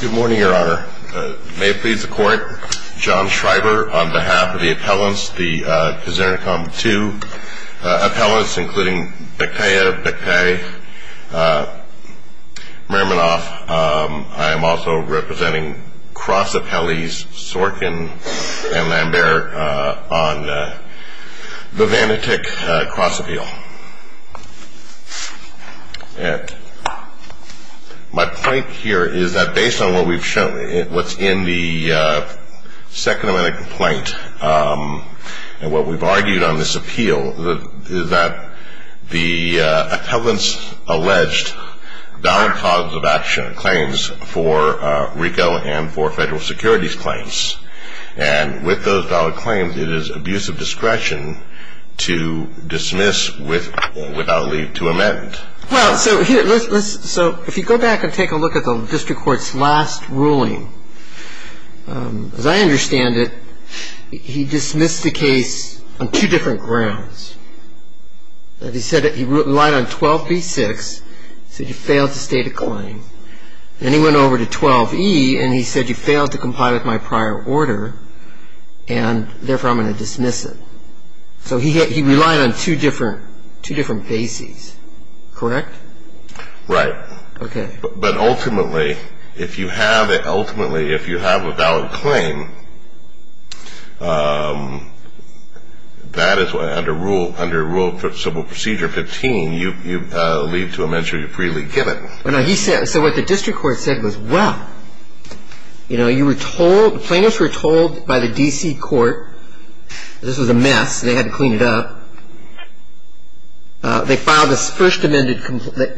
Good morning, Your Honor. May it please the Court, John Schreiber on behalf of the appellants, the Kazenercom Too appellants, including Bekhtaev, Bekhtaev, Merminov. I am also representing cross-appellees Sorkin and Lambert on the Vanityk cross-appeal. And my point here is that based on what we've shown, what's in the second amendment complaint, and what we've argued on this appeal, is that the appellants alleged valid causes of action claims for RICO and for federal securities claims. And with those valid claims, it is abuse of discretion to dismiss without leave to amend. Well, so if you go back and take a look at the district court's last ruling, as I understand it, he dismissed the case on two different grounds. He said that he relied on 12b-6, said he failed to state a claim. Then he went over to 12e, and he said, you failed to comply with my prior order, and therefore I'm going to dismiss it. So he relied on two different bases, correct? Right. But ultimately, if you have a valid claim, that is under Rule of Civil Procedure 15, you leave to amend, so you freely give it. So what the district court said was, well, you were told, the plaintiffs were told by the D.C. court, this was a mess, they had to clean it up. They filed a first amended complaint,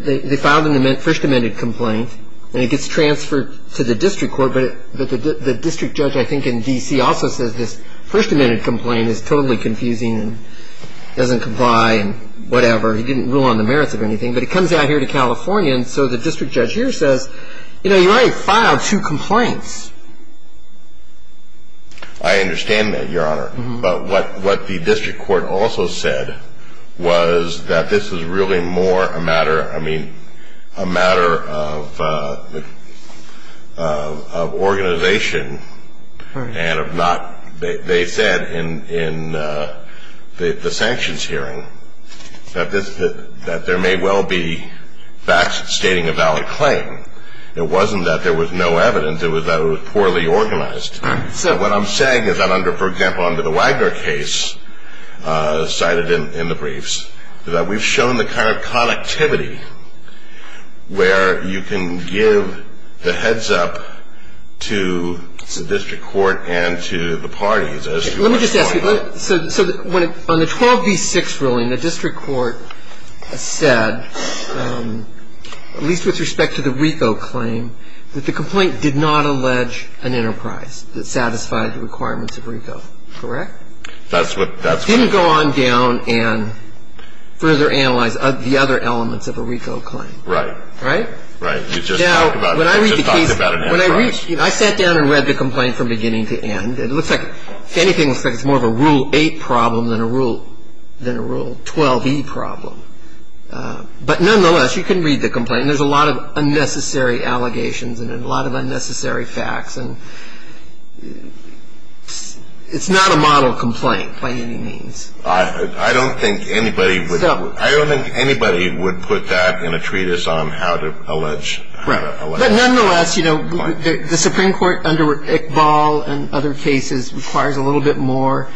and it gets transferred to the district court. But the district judge, I think, in D.C. also says this first amended complaint is totally confusing and doesn't comply and whatever. He didn't rule on the merits of anything. But it comes out here to California, and so the district judge here says, you know, you already filed two complaints. I understand that, Your Honor. But what the district court also said was that this is really more a matter, I mean, a matter of organization and of not, they said in the sanctions hearing, that there may well be facts stating a valid claim. It wasn't that there was no evidence. It was that it was poorly organized. So what I'm saying is that under, for example, under the Wagner case cited in the briefs, that we've shown the kind of connectivity where you can give the heads up to the district court and to the parties. Let me just ask you. So on the 12B6 ruling, the district court said, at least with respect to the RICO claim, that the complaint did not allege an enterprise that satisfied the requirements of RICO, correct? That's what. It didn't go on down and further analyze the other elements of a RICO claim. Right. Right? Right. Now, when I read the case, when I read, I sat down and read the complaint from beginning to end. It looks like anything looks like it's more of a Rule 8 problem than a Rule 12E problem. But nonetheless, you can read the complaint, and there's a lot of unnecessary allegations and a lot of unnecessary facts, and it's not a model complaint by any means. I don't think anybody would put that in a treatise on how to allege. Right. But nonetheless, you know, the Supreme Court under Iqbal and other cases requires a little bit more,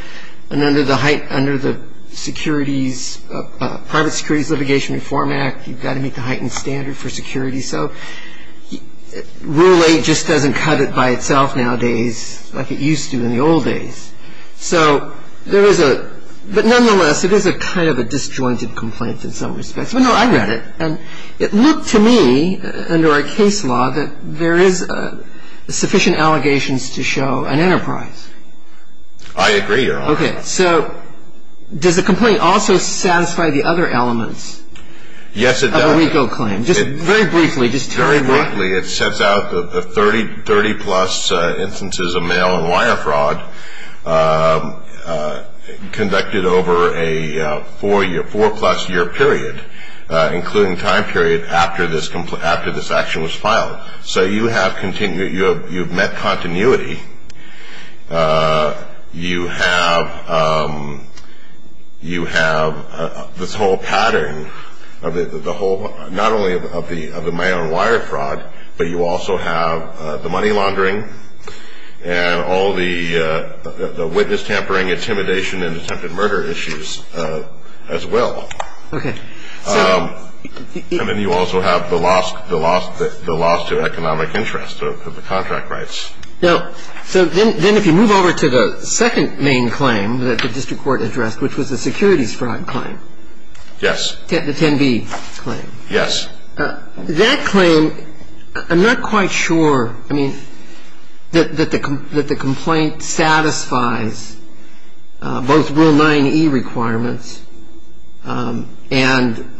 and under the Securities – Private Securities Litigation Reform Act, you've got to meet the heightened standard for security. So Rule 8 just doesn't cut it by itself nowadays like it used to in the old days. So there is a – but nonetheless, it is a kind of a disjointed complaint in some respects. Well, no, I read it, and it looked to me, under our case law, that there is sufficient allegations to show an enterprise. I agree, Your Honor. Okay. So does the complaint also satisfy the other elements of a RICO claim? Yes, it does. Just very briefly, just to rewind. Currently, it sets out the 30-plus instances of mail and wire fraud conducted over a four-plus-year period, including time period after this action was filed. So you have continued – you have met continuity. You have this whole pattern of the whole – not only of the mail and wire fraud, but you also have the money laundering and all the witness tampering, intimidation, and attempted murder issues as well. Okay. And then you also have the loss to economic interest of the contract rights. Now, so then if you move over to the second main claim that the district court addressed, which was the securities fraud claim. Yes. The 10B claim. Yes. That claim – I'm not quite sure, I mean, that the complaint satisfies both Rule 9e requirements and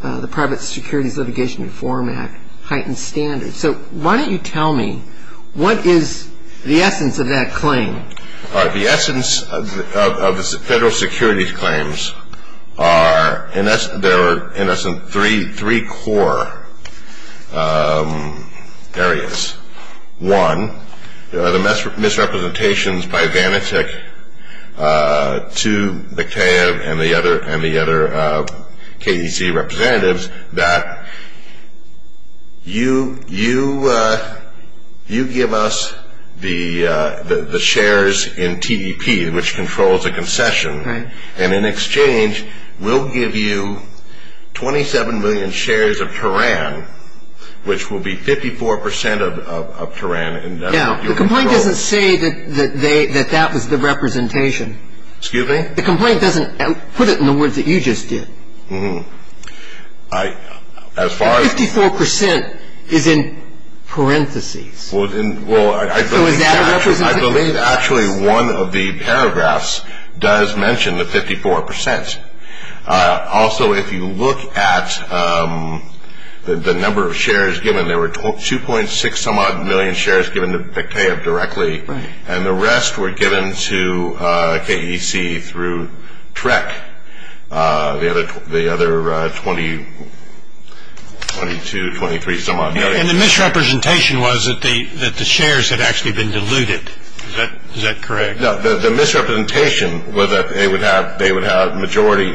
the Private Securities Litigation Reform Act heightened standards. So why don't you tell me what is the essence of that claim? The essence of the federal securities claims are – there are, in essence, three core areas. One, the misrepresentations by Vanatek to the CAEB and the other KEC representatives that you give us the shares in TDP, which controls the concession, and in exchange we'll give you 27 million shares of Teran, which will be 54 percent of Teran. Now, the complaint doesn't say that that was the representation. Excuse me? The complaint doesn't put it in the words that you just did. And 54 percent is in parentheses. Well, I believe actually one of the paragraphs does mention the 54 percent. Also, if you look at the number of shares given, there were 2.6-some-odd million shares given to CAEB directly, and the rest were given to KEC through TREC, the other 22, 23-some-odd million. And the misrepresentation was that the shares had actually been diluted. Is that correct? No, the misrepresentation was that they would have majority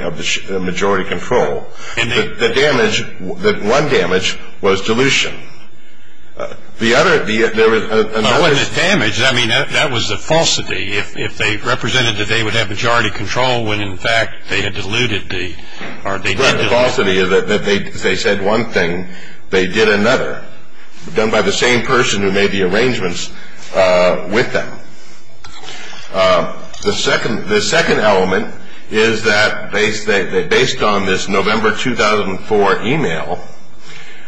control. The damage, one damage, was dilution. The other, there was another. Well, it wasn't a damage. I mean, that was a falsity. If they represented that they would have majority control when, in fact, they had diluted the, or they did dilute. Right, the falsity is that they said one thing, they did another, done by the same person who made the arrangements with them. The second element is that based on this November 2004 e-mail,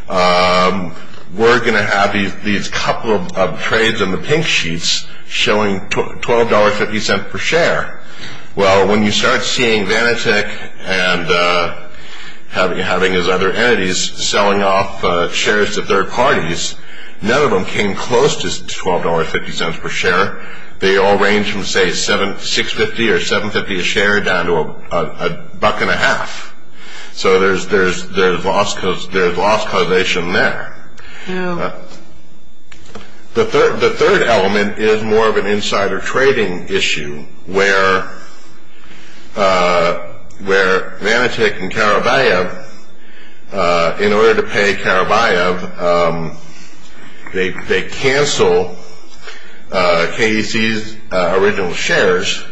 we're going to have these couple of trades on the pink sheets showing $12.50 per share. Well, when you start seeing Vanatek and having his other entities selling off shares to third parties, none of them came close to $12.50 per share. They all ranged from, say, $6.50 or $7.50 a share down to a buck and a half. So there's loss causation there. The third element is more of an insider trading issue, where Vanatek and Karabayev, in order to pay Karabayev, they cancel KDC's original shares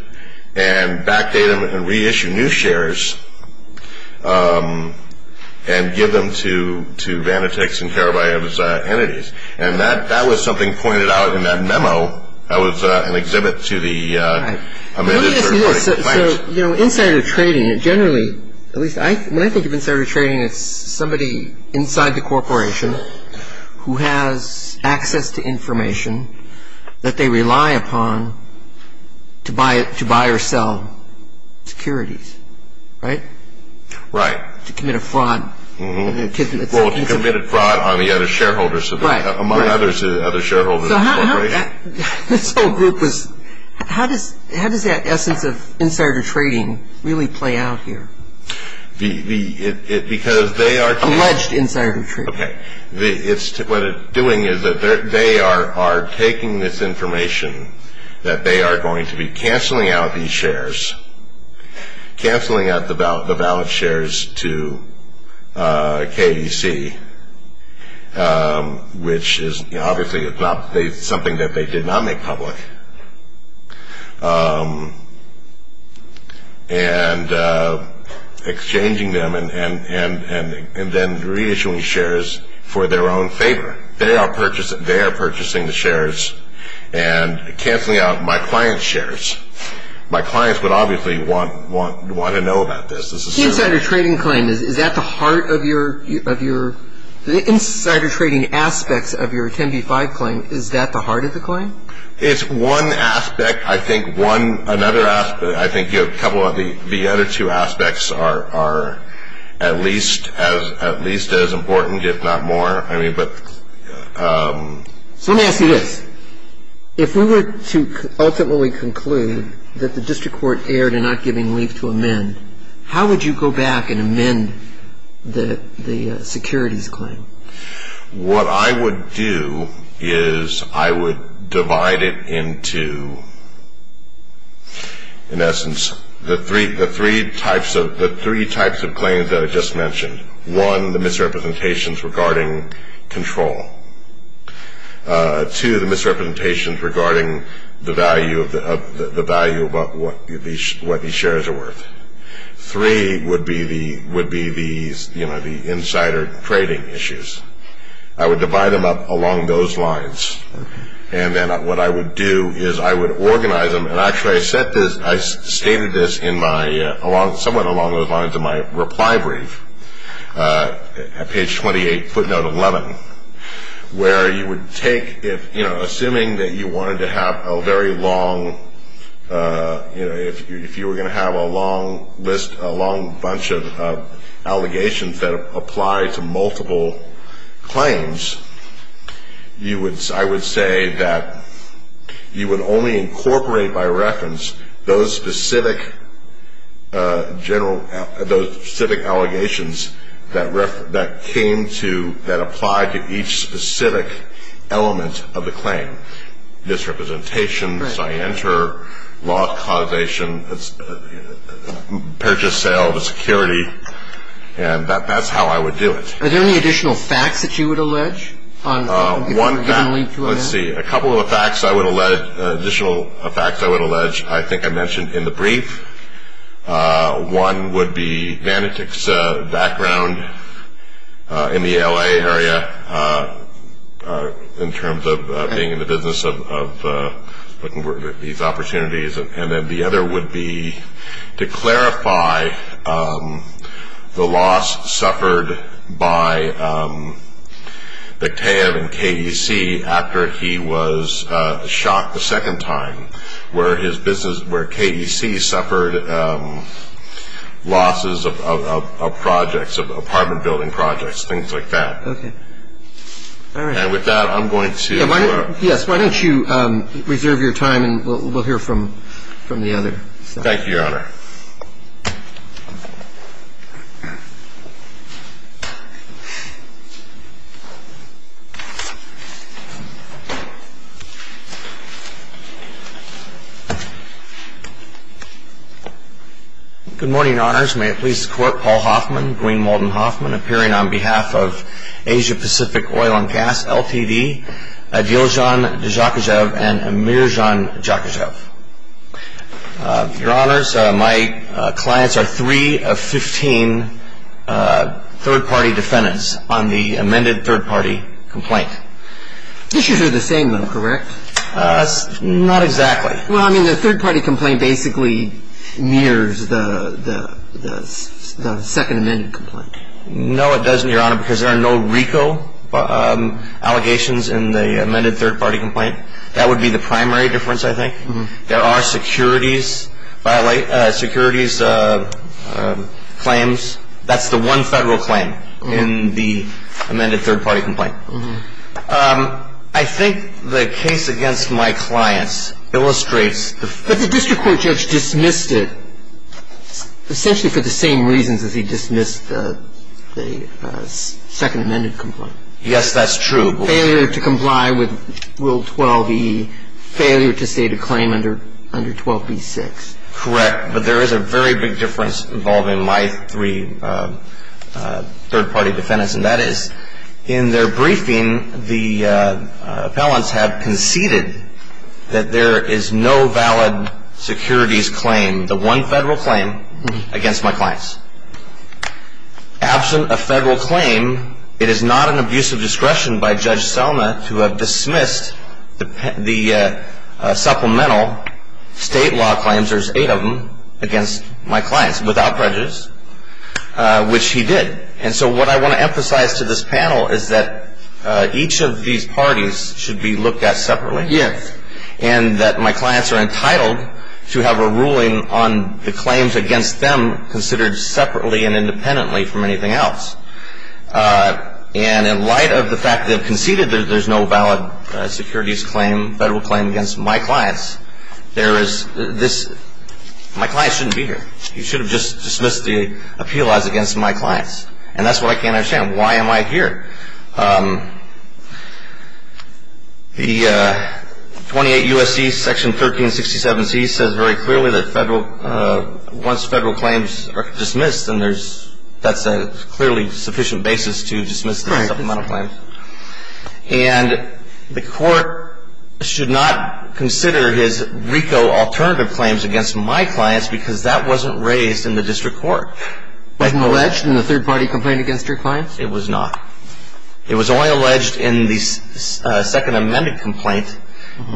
and backdate them and reissue new shares and give them to Vanatek's and Karabayev's entities. And that was something pointed out in that memo. That was an exhibit to the amendments. Let me ask you this. So, you know, insider trading, generally, at least when I think of insider trading, it's somebody inside the corporation who has access to information that they rely upon to buy or sell securities. Right? Right. To commit a fraud. Well, to commit a fraud on the other shareholders. Right. Among others, the other shareholders. So how does that essence of insider trading really play out here? Because they are... Alleged insider trading. Okay. Canceling out the valid shares to KDC, which is obviously something that they did not make public, and exchanging them and then reissuing shares for their own favor. They are purchasing the shares and canceling out my client's shares. My clients would obviously want to know about this. The insider trading claim, is that the heart of your... The insider trading aspects of your 10b-5 claim, is that the heart of the claim? It's one aspect. I think one... I think the other two aspects are at least as important, if not more. I mean, but... So let me ask you this. If we were to ultimately conclude that the district court erred in not giving leave to amend, how would you go back and amend the securities claim? What I would do is I would divide it into, in essence, the three types of claims that I just mentioned. One, the misrepresentations regarding control. Two, the misrepresentations regarding the value of what these shares are worth. Three would be the insider trading issues. I would divide them up along those lines. And then what I would do is I would organize them. And actually, I stated this somewhat along those lines in my reply brief at page 28, footnote 11, where you would take, assuming that you wanted to have a very long... If you were going to have a long list, a long bunch of allegations that apply to multiple claims, you would... I would say that you would only incorporate by reference those specific allegations that came to... that apply to each specific element of the claim. Misrepresentation, scienter, loss causation, purchase, sale of a security. And that's how I would do it. Are there any additional facts that you would allege? Let's see. A couple of facts I would allege, additional facts I would allege, I think I mentioned in the brief. One would be Vanity's background in the L.A. area in terms of being in the business of looking for these opportunities. And then the other would be, to clarify, the loss suffered by Bekhtaev in KDC after he was shot the second time, where his business, where KDC suffered losses of projects, apartment building projects, things like that. Okay. All right. And with that, I'm going to... Yes, why don't you reserve your time and we'll hear from the other. Thank you, Your Honor. Good morning, Honors. May it please the Court, Paul Hoffman, Green Molden Hoffman, appearing on behalf of Asia Pacific Oil and Gas, LTV, Adiljan Dzhokazhev and Amirjan Dzhokazhev. Your Honors, my clients are three of 15 third-party defendants on the amended third-party complaint. The issues are the same though, correct? Not exactly. Well, I mean, the third-party complaint basically mirrors the second amended complaint. No, it doesn't, Your Honor, because there are no RICO allegations in the amended third-party complaint. That would be the primary difference, I think. There are securities claims. That's the one federal claim in the amended third-party complaint. I think the case against my clients illustrates... But the district court judge dismissed it, essentially for the same reasons as he dismissed the second amended complaint. Yes, that's true. Failure to comply with Rule 12e, failure to state a claim under 12b-6. Correct, but there is a very big difference involving my three third-party defendants, and that is in their briefing the appellants have conceded that there is no valid securities claim, the one federal claim, against my clients. Absent a federal claim, it is not an abuse of discretion by Judge Selma to have dismissed the supplemental state law claims, there's eight of them, against my clients without prejudice, which he did. And so what I want to emphasize to this panel is that each of these parties should be looked at separately. Yes. And that my clients are entitled to have a ruling on the claims against them, considered separately and independently from anything else. And in light of the fact that they've conceded that there's no valid securities claim, federal claim, against my clients, there is this... My clients shouldn't be here. You should have just dismissed the appeal odds against my clients. And that's what I can't understand. Why am I here? The 28 U.S.C. section 1367c says very clearly that once federal claims are dismissed, then that's a clearly sufficient basis to dismiss the supplemental claims. And the court should not consider his RICO alternative claims against my clients because that wasn't raised in the district court. Wasn't alleged in the third-party complaint against your clients? It was not. It was only alleged in the second amended complaint,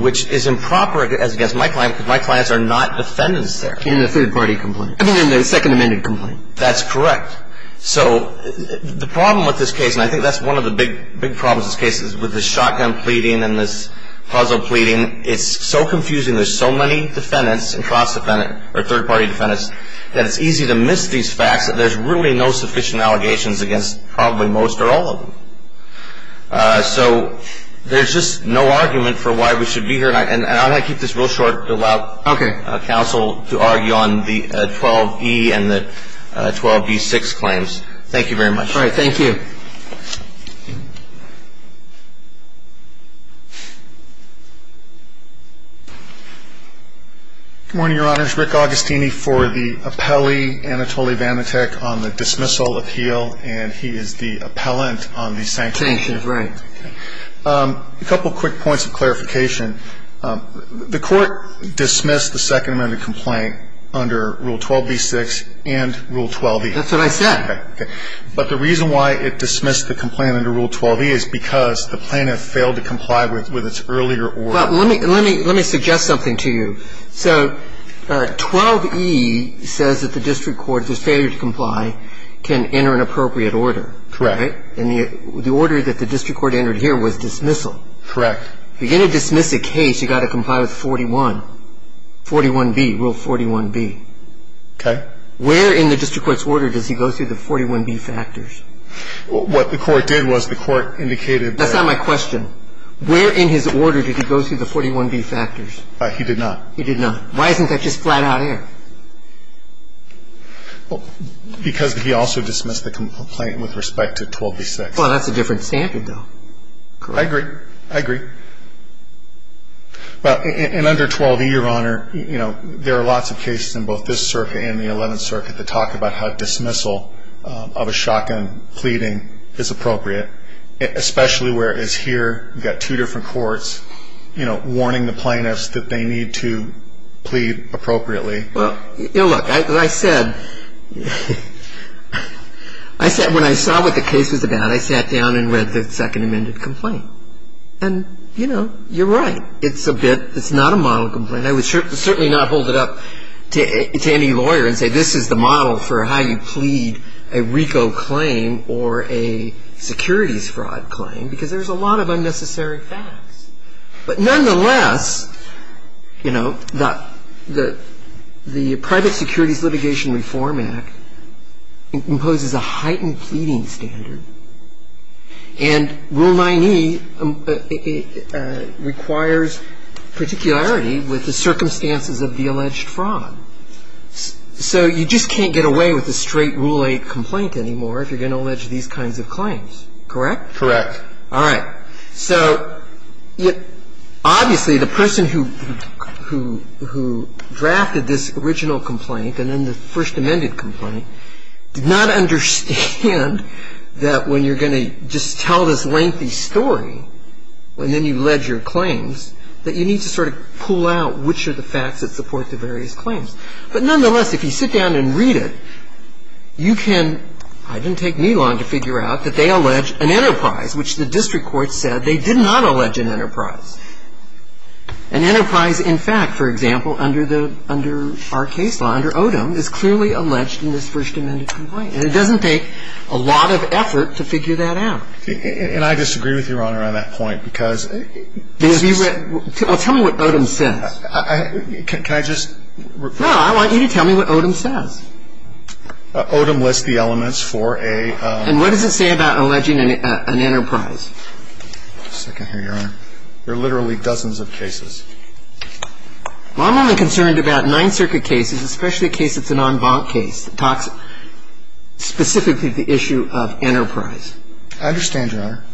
which is improper as against my clients because my clients are not defendants there. In the third-party complaint. I mean in the second amended complaint. That's correct. So the problem with this case, and I think that's one of the big problems with this case, is with the shotgun pleading and this puzzle pleading, it's so confusing. There's so many defendants and cross-defendant or third-party defendants that it's easy to miss these facts that there's really no sufficient allegations against probably most or all of them. So there's just no argument for why we should be here. And I'm going to keep this real short to allow counsel to argue on the 12E and the 12B6 claims. Thank you very much. All right, thank you. Good morning, Your Honors. Rick Augustini for the appellee, Anatoly Vanatek, on the dismissal appeal, and he is the appellant on the sanctions case. Sanctions, right. A couple quick points of clarification. The court dismissed the second amended complaint under Rule 12B6 and Rule 12E. That's what I said. But the reason why it dismissed the complaint under Rule 12E is because the plaintiff failed to comply with its earlier order. Let me suggest something to you. So 12E says that the district court, if there's failure to comply, can enter an appropriate order. Correct. And the order that the district court entered here was dismissal. Correct. If you're going to dismiss a case, you've got to comply with 41, 41B, Rule 41B. Okay. Where in the district court's order does he go through the 41B factors? What the court did was the court indicated that he did not. That's not my question. Where in his order did he go through the 41B factors? He did not. He did not. Why isn't that just flat-out air? Because he also dismissed the complaint with respect to 12B6. Well, that's a different standard, though. I agree. I agree. Well, in under 12E, Your Honor, you know, there are lots of cases in both this circuit and the Eleventh Circuit that talk about how dismissal of a shotgun pleading is appropriate, especially where it's here, you've got two different courts, you know, warning the plaintiffs that they need to plead appropriately. Well, you know, look, as I said, when I saw what the case was about, I sat down and read the Second Amendment complaint. And, you know, you're right. It's a bit, it's not a model complaint. I would certainly not hold it up to any lawyer and say this is the model for how you plead a RICO claim or a securities fraud claim because there's a lot of unnecessary facts. But nonetheless, you know, the Private Securities Litigation Reform Act imposes a heightened pleading standard, and Rule 9E requires particularity with the circumstances of the alleged fraud. So you just can't get away with a straight Rule 8 complaint anymore if you're going to allege these kinds of claims. Correct? Correct. All right. So obviously the person who drafted this original complaint and then the First Amendment complaint did not understand that when you're going to just tell this lengthy story and then you allege your claims, that you need to sort of pull out which are the facts that support the various claims. But nonetheless, if you sit down and read it, you can, it didn't take me long to figure out that they allege an enterprise, which the district court said they did not allege an enterprise. An enterprise, in fact, for example, under the, under our case law, under Odom, is clearly alleged in this First Amendment complaint. And it doesn't take a lot of effort to figure that out. And I disagree with Your Honor on that point because this is. Well, tell me what Odom says. Can I just. No, I want you to tell me what Odom says. Odom lists the elements for a. And what does it say about alleging an enterprise? Well, I'm only concerned about nine circuit cases, especially a case that's an en banc case. It talks specifically to the issue of enterprise. I understand, Your Honor.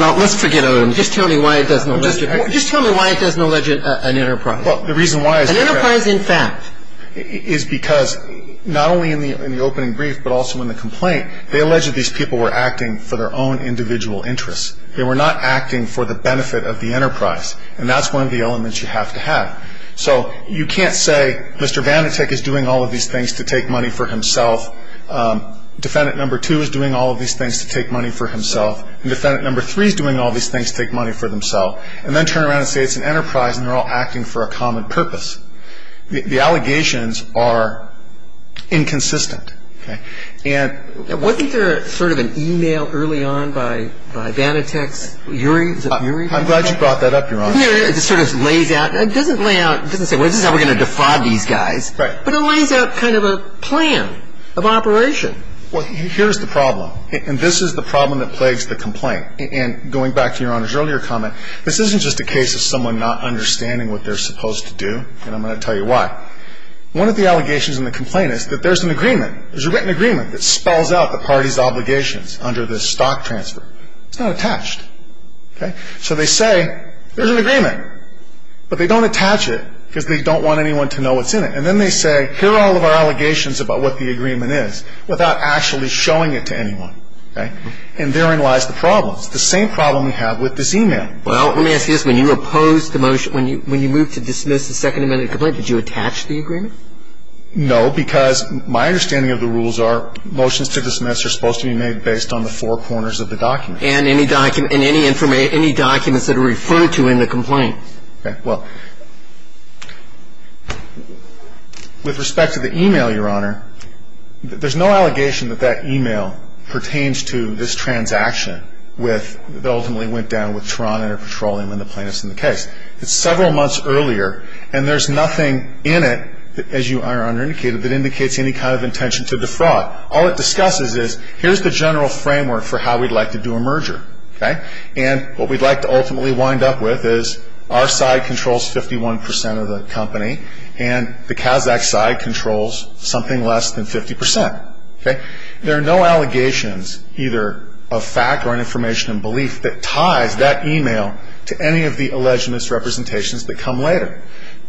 Now, let's forget Odom. Just tell me why it doesn't allege an enterprise. Well, the reason why. An enterprise, in fact. Is because not only in the opening brief, but also in the complaint, they alleged these people were acting for their own individual interests. They were not acting for the benefit of the enterprise. And that's one of the elements you have to have. So you can't say Mr. Vanatek is doing all of these things to take money for himself, defendant number two is doing all of these things to take money for himself, and defendant number three is doing all of these things to take money for themselves, and then turn around and say it's an enterprise and they're all acting for a common purpose. The allegations are inconsistent. Wasn't there sort of an e-mail early on by Vanatek's? I'm glad you brought that up, Your Honor. It sort of lays out, it doesn't say this is how we're going to defraud these guys. Right. But it lays out kind of a plan of operation. Well, here's the problem. And this is the problem that plagues the complaint. And going back to Your Honor's earlier comment, this isn't just a case of someone not understanding what they're supposed to do, and I'm going to tell you why. One of the allegations in the complaint is that there's an agreement, there's a written agreement that spells out the party's obligations under this stock transfer. It's not attached. So they say there's an agreement, but they don't attach it because they don't want anyone to know what's in it. And then they say here are all of our allegations about what the agreement is without actually showing it to anyone. And therein lies the problem. It's the same problem we have with this e-mail. Well, let me ask you this. When you opposed the motion, when you moved to dismiss the Second Amendment complaint, did you attach the agreement? No, because my understanding of the rules are motions to dismiss are supposed to be made based on the four corners of the document. And any documents that are referred to in the complaint. Okay. Well, with respect to the e-mail, Your Honor, there's no allegation that that e-mail pertains to this transaction that ultimately went down with Toronto Petroleum and the plaintiffs in the case. It's several months earlier, and there's nothing in it, as Your Honor indicated, that indicates any kind of intention to defraud. All it discusses is here's the general framework for how we'd like to do a merger, okay? And what we'd like to ultimately wind up with is our side controls 51 percent of the company, and the Kazakh side controls something less than 50 percent, okay? There are no allegations, either of fact or an information of belief, that ties that e-mail to any of the alleged misrepresentations that come later.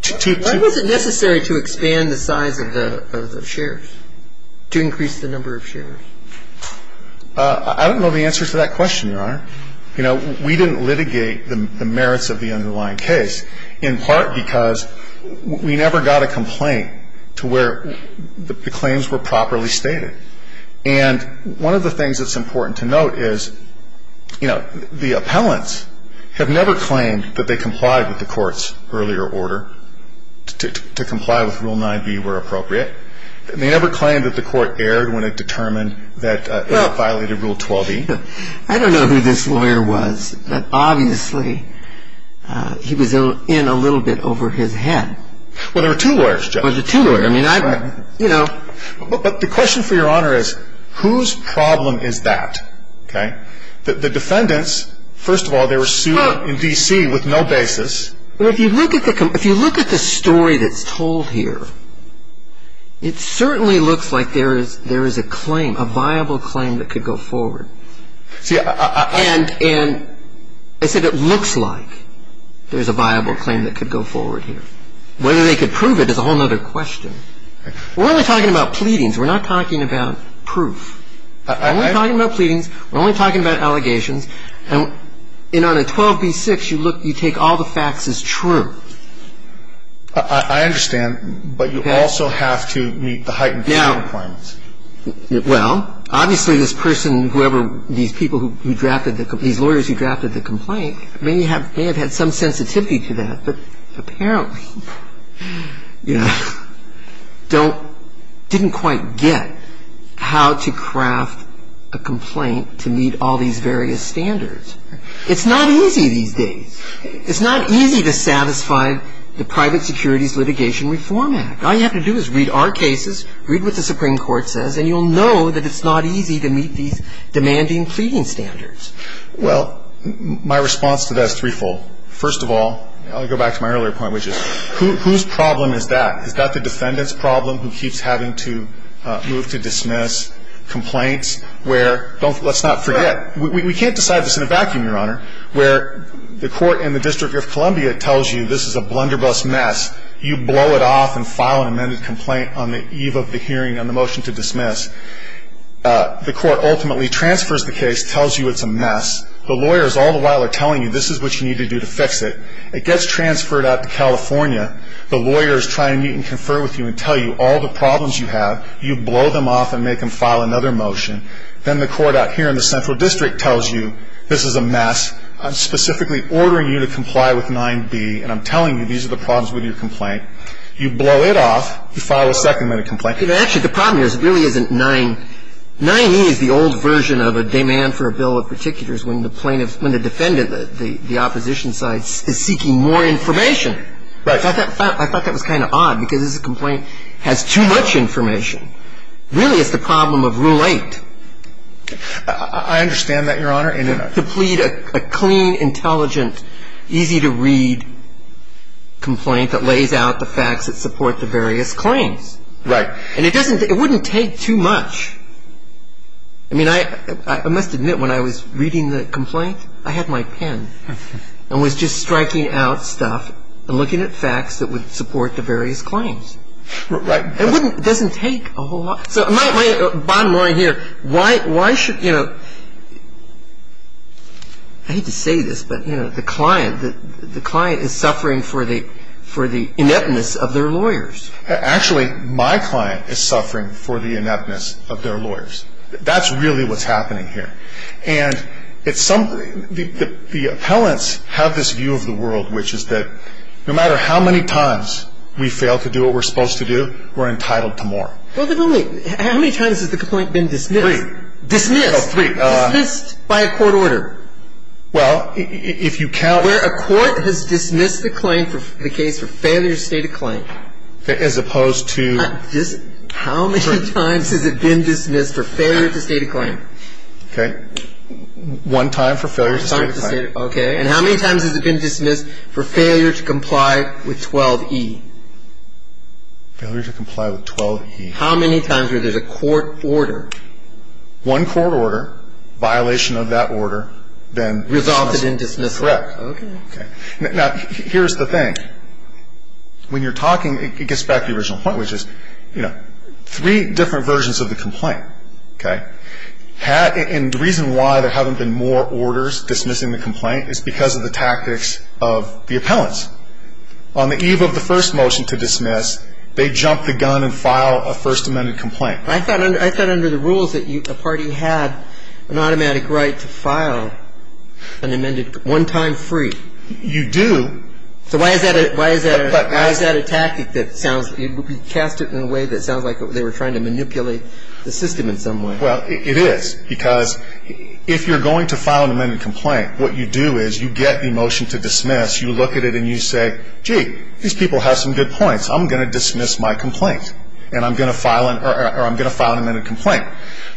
Why was it necessary to expand the size of the shares, to increase the number of shares? I don't know the answer to that question, Your Honor. You know, we didn't litigate the merits of the underlying case, in part because we never got a complaint to where the claims were properly stated. And one of the things that's important to note is, you know, the appellants have never claimed that they complied with the Court's earlier order to comply with Rule 9b where appropriate. They never claimed that the Court erred when it determined that it violated Rule 12e. I don't know who this lawyer was, but obviously he was in a little bit over his head. Well, there were two lawyers, Judge. There were two lawyers. I mean, I, you know. But the question for Your Honor is whose problem is that, okay? The defendants, first of all, they were sued in D.C. with no basis. Well, if you look at the story that's told here, it certainly looks like there is a claim, a viable claim that could go forward. And I said it looks like there's a viable claim that could go forward here. Whether they could prove it is a whole other question. We're only talking about pleadings. We're not talking about proof. We're only talking about pleadings. We're only talking about allegations. And on a 12b-6, you look, you take all the facts as true. I understand. Okay. But you also have to meet the heightened claim requirements. Now, well, obviously this person, whoever these people who drafted the, these lawyers who drafted the complaint may have had some sensitivity to that. But apparently, you know, they didn't quite get how to craft a complaint to meet all these various standards. It's not easy these days. It's not easy to satisfy the Private Securities Litigation Reform Act. All you have to do is read our cases, read what the Supreme Court says, and you'll know that it's not easy to meet these demanding pleading standards. Well, my response to that is threefold. First of all, I'll go back to my earlier point, which is whose problem is that? Is that the defendant's problem who keeps having to move to dismiss complaints where, let's not forget, we can't decide this in a vacuum, Your Honor, where the court in the District of Columbia tells you this is a blunderbuss mess. You blow it off and file an amended complaint on the eve of the hearing on the motion to dismiss. The court ultimately transfers the case, tells you it's a mess. The lawyers all the while are telling you this is what you need to do to fix it. It gets transferred out to California. The lawyer is trying to meet and confer with you and tell you all the problems you have. You blow them off and make them file another motion. Then the court out here in the Central District tells you this is a mess. I'm specifically ordering you to comply with 9b, and I'm telling you these are the problems with your complaint. You blow it off. You file a second-minute complaint. Actually, the problem here really isn't 9. 9e is the old version of a demand for a bill of particulars when the plaintiff, when the defendant, the opposition side, is seeking more information. I thought that was kind of odd because this complaint has too much information. Really, it's the problem of Rule 8. I understand that, Your Honor. To plead a clean, intelligent, easy-to-read complaint that lays out the facts that support the various claims. Right. And it wouldn't take too much. I mean, I must admit, when I was reading the complaint, I had my pen and was just striking out stuff. I'm looking at facts that would support the various claims. Right. It doesn't take a whole lot. So my bottom line here, why should, you know, I hate to say this, but, you know, the client, the client is suffering for the ineptness of their lawyers. Actually, my client is suffering for the ineptness of their lawyers. That's really what's happening here. And the appellants have this view of the world, which is that no matter how many times we fail to do what we're supposed to do, we're entitled to more. Well, how many times has the complaint been dismissed? Three. Dismissed. Oh, three. Dismissed by a court order. Well, if you count. Where a court has dismissed the case for failure to state a claim. As opposed to. How many times has it been dismissed for failure to state a claim? Okay. One time for failure to state a claim. Okay. And how many times has it been dismissed for failure to comply with 12E? Failure to comply with 12E. How many times where there's a court order? One court order, violation of that order, then. Resulted in dismissal. Correct. Okay. Now, here's the thing. When you're talking, it gets back to the original point, which is, you know, three different versions of the complaint. Okay. And the reason why there haven't been more orders dismissing the complaint is because of the tactics of the appellants. On the eve of the first motion to dismiss, they jump the gun and file a first amended complaint. I thought under the rules that a party had an automatic right to file an amended one time free. You do. So why is that a tactic that sounds, you cast it in a way that sounds like they were trying to manipulate the system in some way. Well, it is. Because if you're going to file an amended complaint, what you do is you get the motion to dismiss. You look at it and you say, gee, these people have some good points. I'm going to dismiss my complaint. And I'm going to file an amended complaint.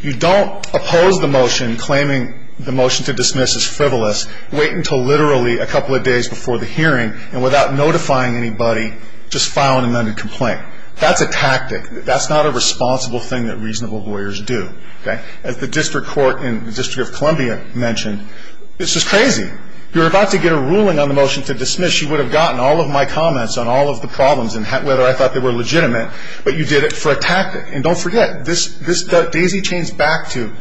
You don't oppose the motion claiming the motion to dismiss is frivolous, wait until literally a couple of days before the hearing, and without notifying anybody, just file an amended complaint. That's a tactic. That's not a responsible thing that reasonable lawyers do. As the district court in the District of Columbia mentioned, this is crazy. You're about to get a ruling on the motion to dismiss. You would have gotten all of my comments on all of the problems and whether I thought they were legitimate, but you did it for a tactic. And don't forget, this daisy chains back to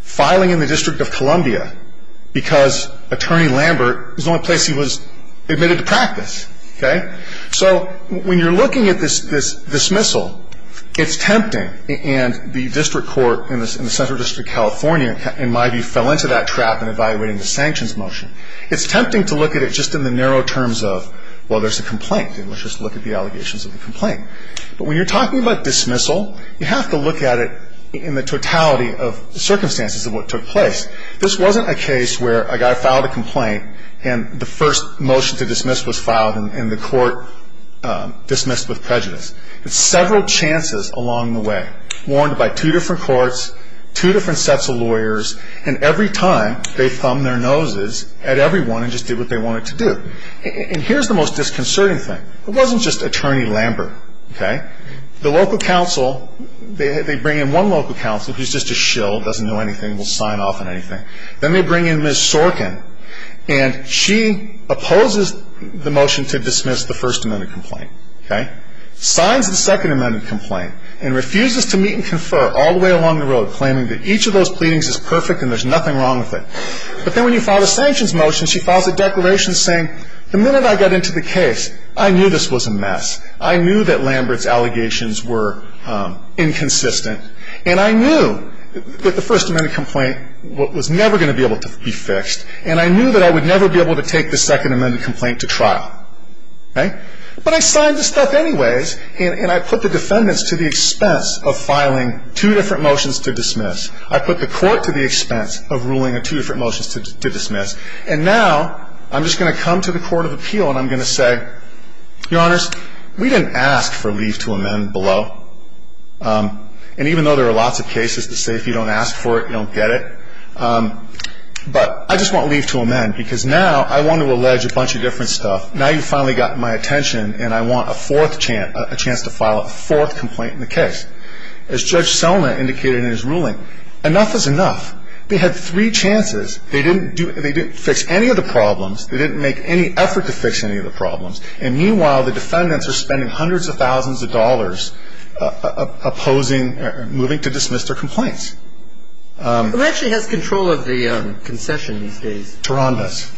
filing in the District of Columbia because Attorney Lambert was the only place he was admitted to practice. So when you're looking at this dismissal, it's tempting. And the district court in the Central District of California, in my view, fell into that trap in evaluating the sanctions motion. It's tempting to look at it just in the narrow terms of, well, there's a complaint. Let's just look at the allegations of the complaint. But when you're talking about dismissal, you have to look at it in the totality of circumstances of what took place. This wasn't a case where a guy filed a complaint and the first motion to dismiss was filed and the court dismissed with prejudice. It's several chances along the way, warned by two different courts, two different sets of lawyers, and every time they thumbed their noses at everyone and just did what they wanted to do. And here's the most disconcerting thing. It wasn't just Attorney Lambert. The local council, they bring in one local council who's just a shill, doesn't know anything, will sign off on anything. Then they bring in Ms. Sorkin, and she opposes the motion to dismiss the First Amendment complaint. Signs the Second Amendment complaint and refuses to meet and confer all the way along the road, claiming that each of those pleadings is perfect and there's nothing wrong with it. But then when you file a sanctions motion, she files a declaration saying, the minute I got into the case, I knew this was a mess. I knew that Lambert's allegations were inconsistent. And I knew that the First Amendment complaint was never going to be able to be fixed. And I knew that I would never be able to take the Second Amendment complaint to trial. But I signed the stuff anyways, and I put the defendants to the expense of filing two different motions to dismiss. I put the court to the expense of ruling on two different motions to dismiss. And now I'm just going to come to the Court of Appeal, and I'm going to say, Your Honors, we didn't ask for leave to amend below. And even though there are lots of cases that say if you don't ask for it, you don't get it. But I just want leave to amend because now I want to allege a bunch of different stuff. Now you've finally gotten my attention, and I want a fourth chance to file a fourth complaint in the case. As Judge Selna indicated in his ruling, enough is enough. They had three chances. They didn't do – they didn't fix any of the problems. They didn't make any effort to fix any of the problems. And meanwhile, the defendants are spending hundreds of thousands of dollars opposing – moving to dismiss their complaints. Who actually has control of the concession these days? Turandos.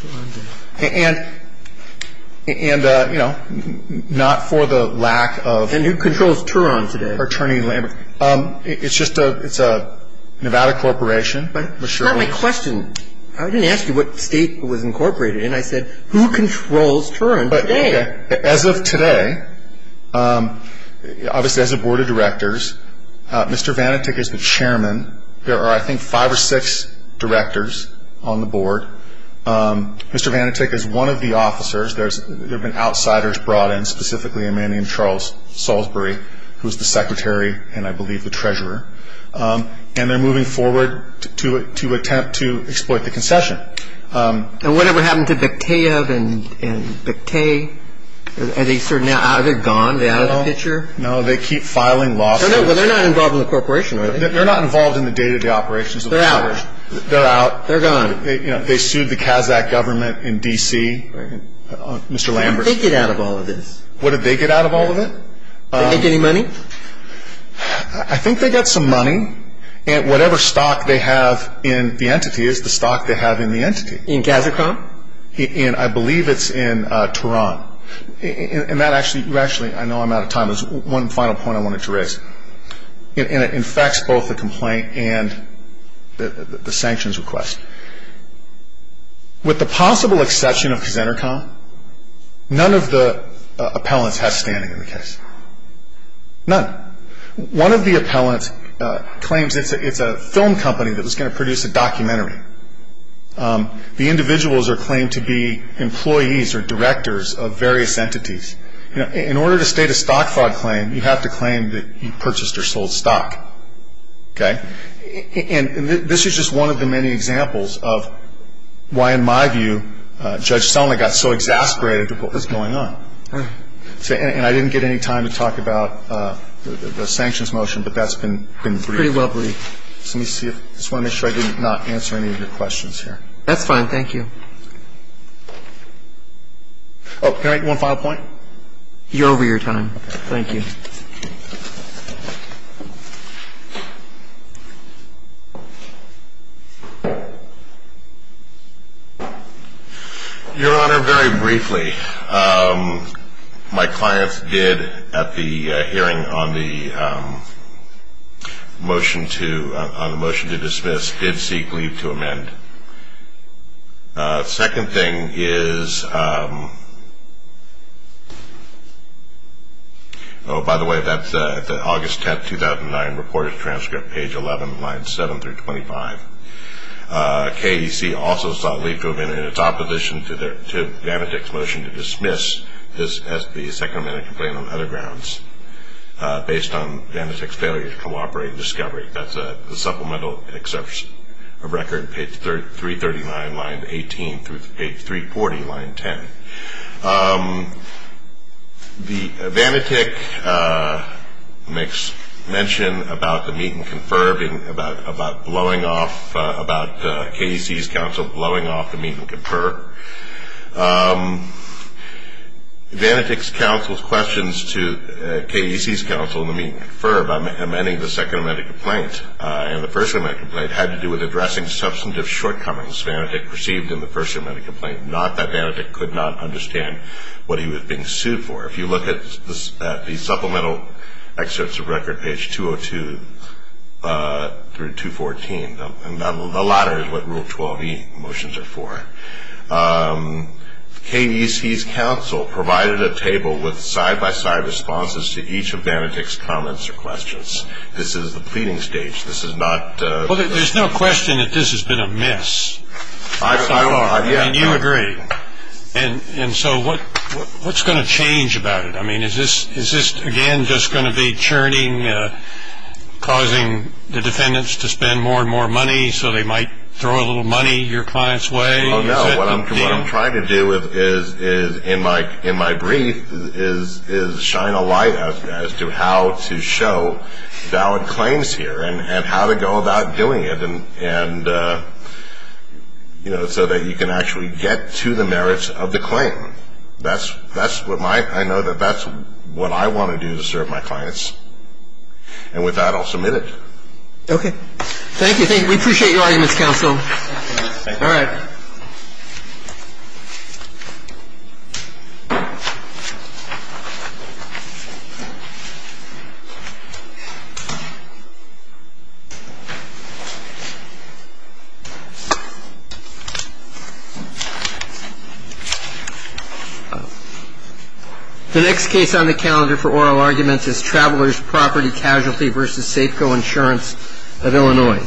Turandos. And, you know, not for the lack of – And who controls Turand today? It's just a – it's a Nevada corporation. That's not my question. I didn't ask you what state it was incorporated in. I said, Who controls Turand today? As of today, obviously as a board of directors, Mr. Vanatek is the chairman. There are, I think, five or six directors on the board. Mr. Vanatek is one of the officers. There have been outsiders brought in, specifically a man named Charles Salisbury, who is the secretary and, I believe, the treasurer. And they're moving forward to attempt to exploit the concession. And whatever happened to Bekhtaev and Bekhtay? Are they sort of now – are they gone? Are they out of the picture? No. No, they keep filing lawsuits. Well, they're not involved in the corporation, are they? They're not involved in the day-to-day operations of the corporation. They're out. They're out. They're gone. They sued the Kazakh government in D.C., Mr. Lambert. What did they get out of all of this? What did they get out of all of it? Did they make any money? I think they got some money. And whatever stock they have in the entity is the stock they have in the entity. In Kazakhstan? And I believe it's in Turand. And that actually – you actually – I know I'm out of time. There's one final point I wanted to raise. And it infects both the complaint and the sanctions request. With the possible exception of Kazantarkhan, none of the appellants have standing in the case. None. One of the appellants claims it's a film company that was going to produce a documentary. The individuals are claimed to be employees or directors of various entities. In order to state a stock fraud claim, you have to claim that you purchased or sold stock. Okay? And this is just one of the many examples of why, in my view, Judge Selnick got so exasperated at what was going on. And I didn't get any time to talk about the sanctions motion, but that's been pretty well briefed. So let me see if – I just want to make sure I did not answer any of your questions here. That's fine. Thank you. Oh, can I make one final point? You're over your time. Thank you. Your Honor, very briefly, my clients did, at the hearing on the motion to dismiss, did seek leave to amend. Second thing is – oh, by the way, that's the August 10th, 2009, reported transcript, page 11, lines 7 through 25. KDC also sought leave to amend in its opposition to Vanity's motion to dismiss this SBA second amendment complaint on other grounds, based on Vanity's failure to cooperate in discovery. That's a supplemental exception of record, page 339, line 18, through page 340, line 10. Vanityk makes mention about the meet-and-confer, about blowing off – about KDC's counsel blowing off the meet-and-confer. Vanityk's counsel's questions to KDC's counsel in the meet-and-confer about amending the second amendment complaint and the first amendment complaint had to do with addressing substantive shortcomings Vanityk received in the first amendment complaint, not that Vanityk could not understand what he was being sued for. If you look at the supplemental excerpts of record, page 202 through 214, and the latter is what Rule 12e motions are for, KDC's counsel provided a table with side-by-side responses to each of Vanityk's comments or questions. This is the pleading stage. This is not – Well, there's no question that this has been a mess. I will – And you agree. And so what's going to change about it? I mean, is this, again, just going to be churning, causing the defendants to spend more and more money so they might throw a little money your client's way? Oh, no. What I'm trying to do is, in my brief, is shine a light as to how to show valid claims here and how to go about doing it so that you can actually get to the merits of the claim. That's what my – I know that that's what I want to do to serve my clients. And with that, I'll submit it. Okay. Thank you. We appreciate your arguments, counsel. Thank you. All right. The next case on the calendar for oral arguments is Travelers' Property Casualty v. Safeco Insurance of Illinois.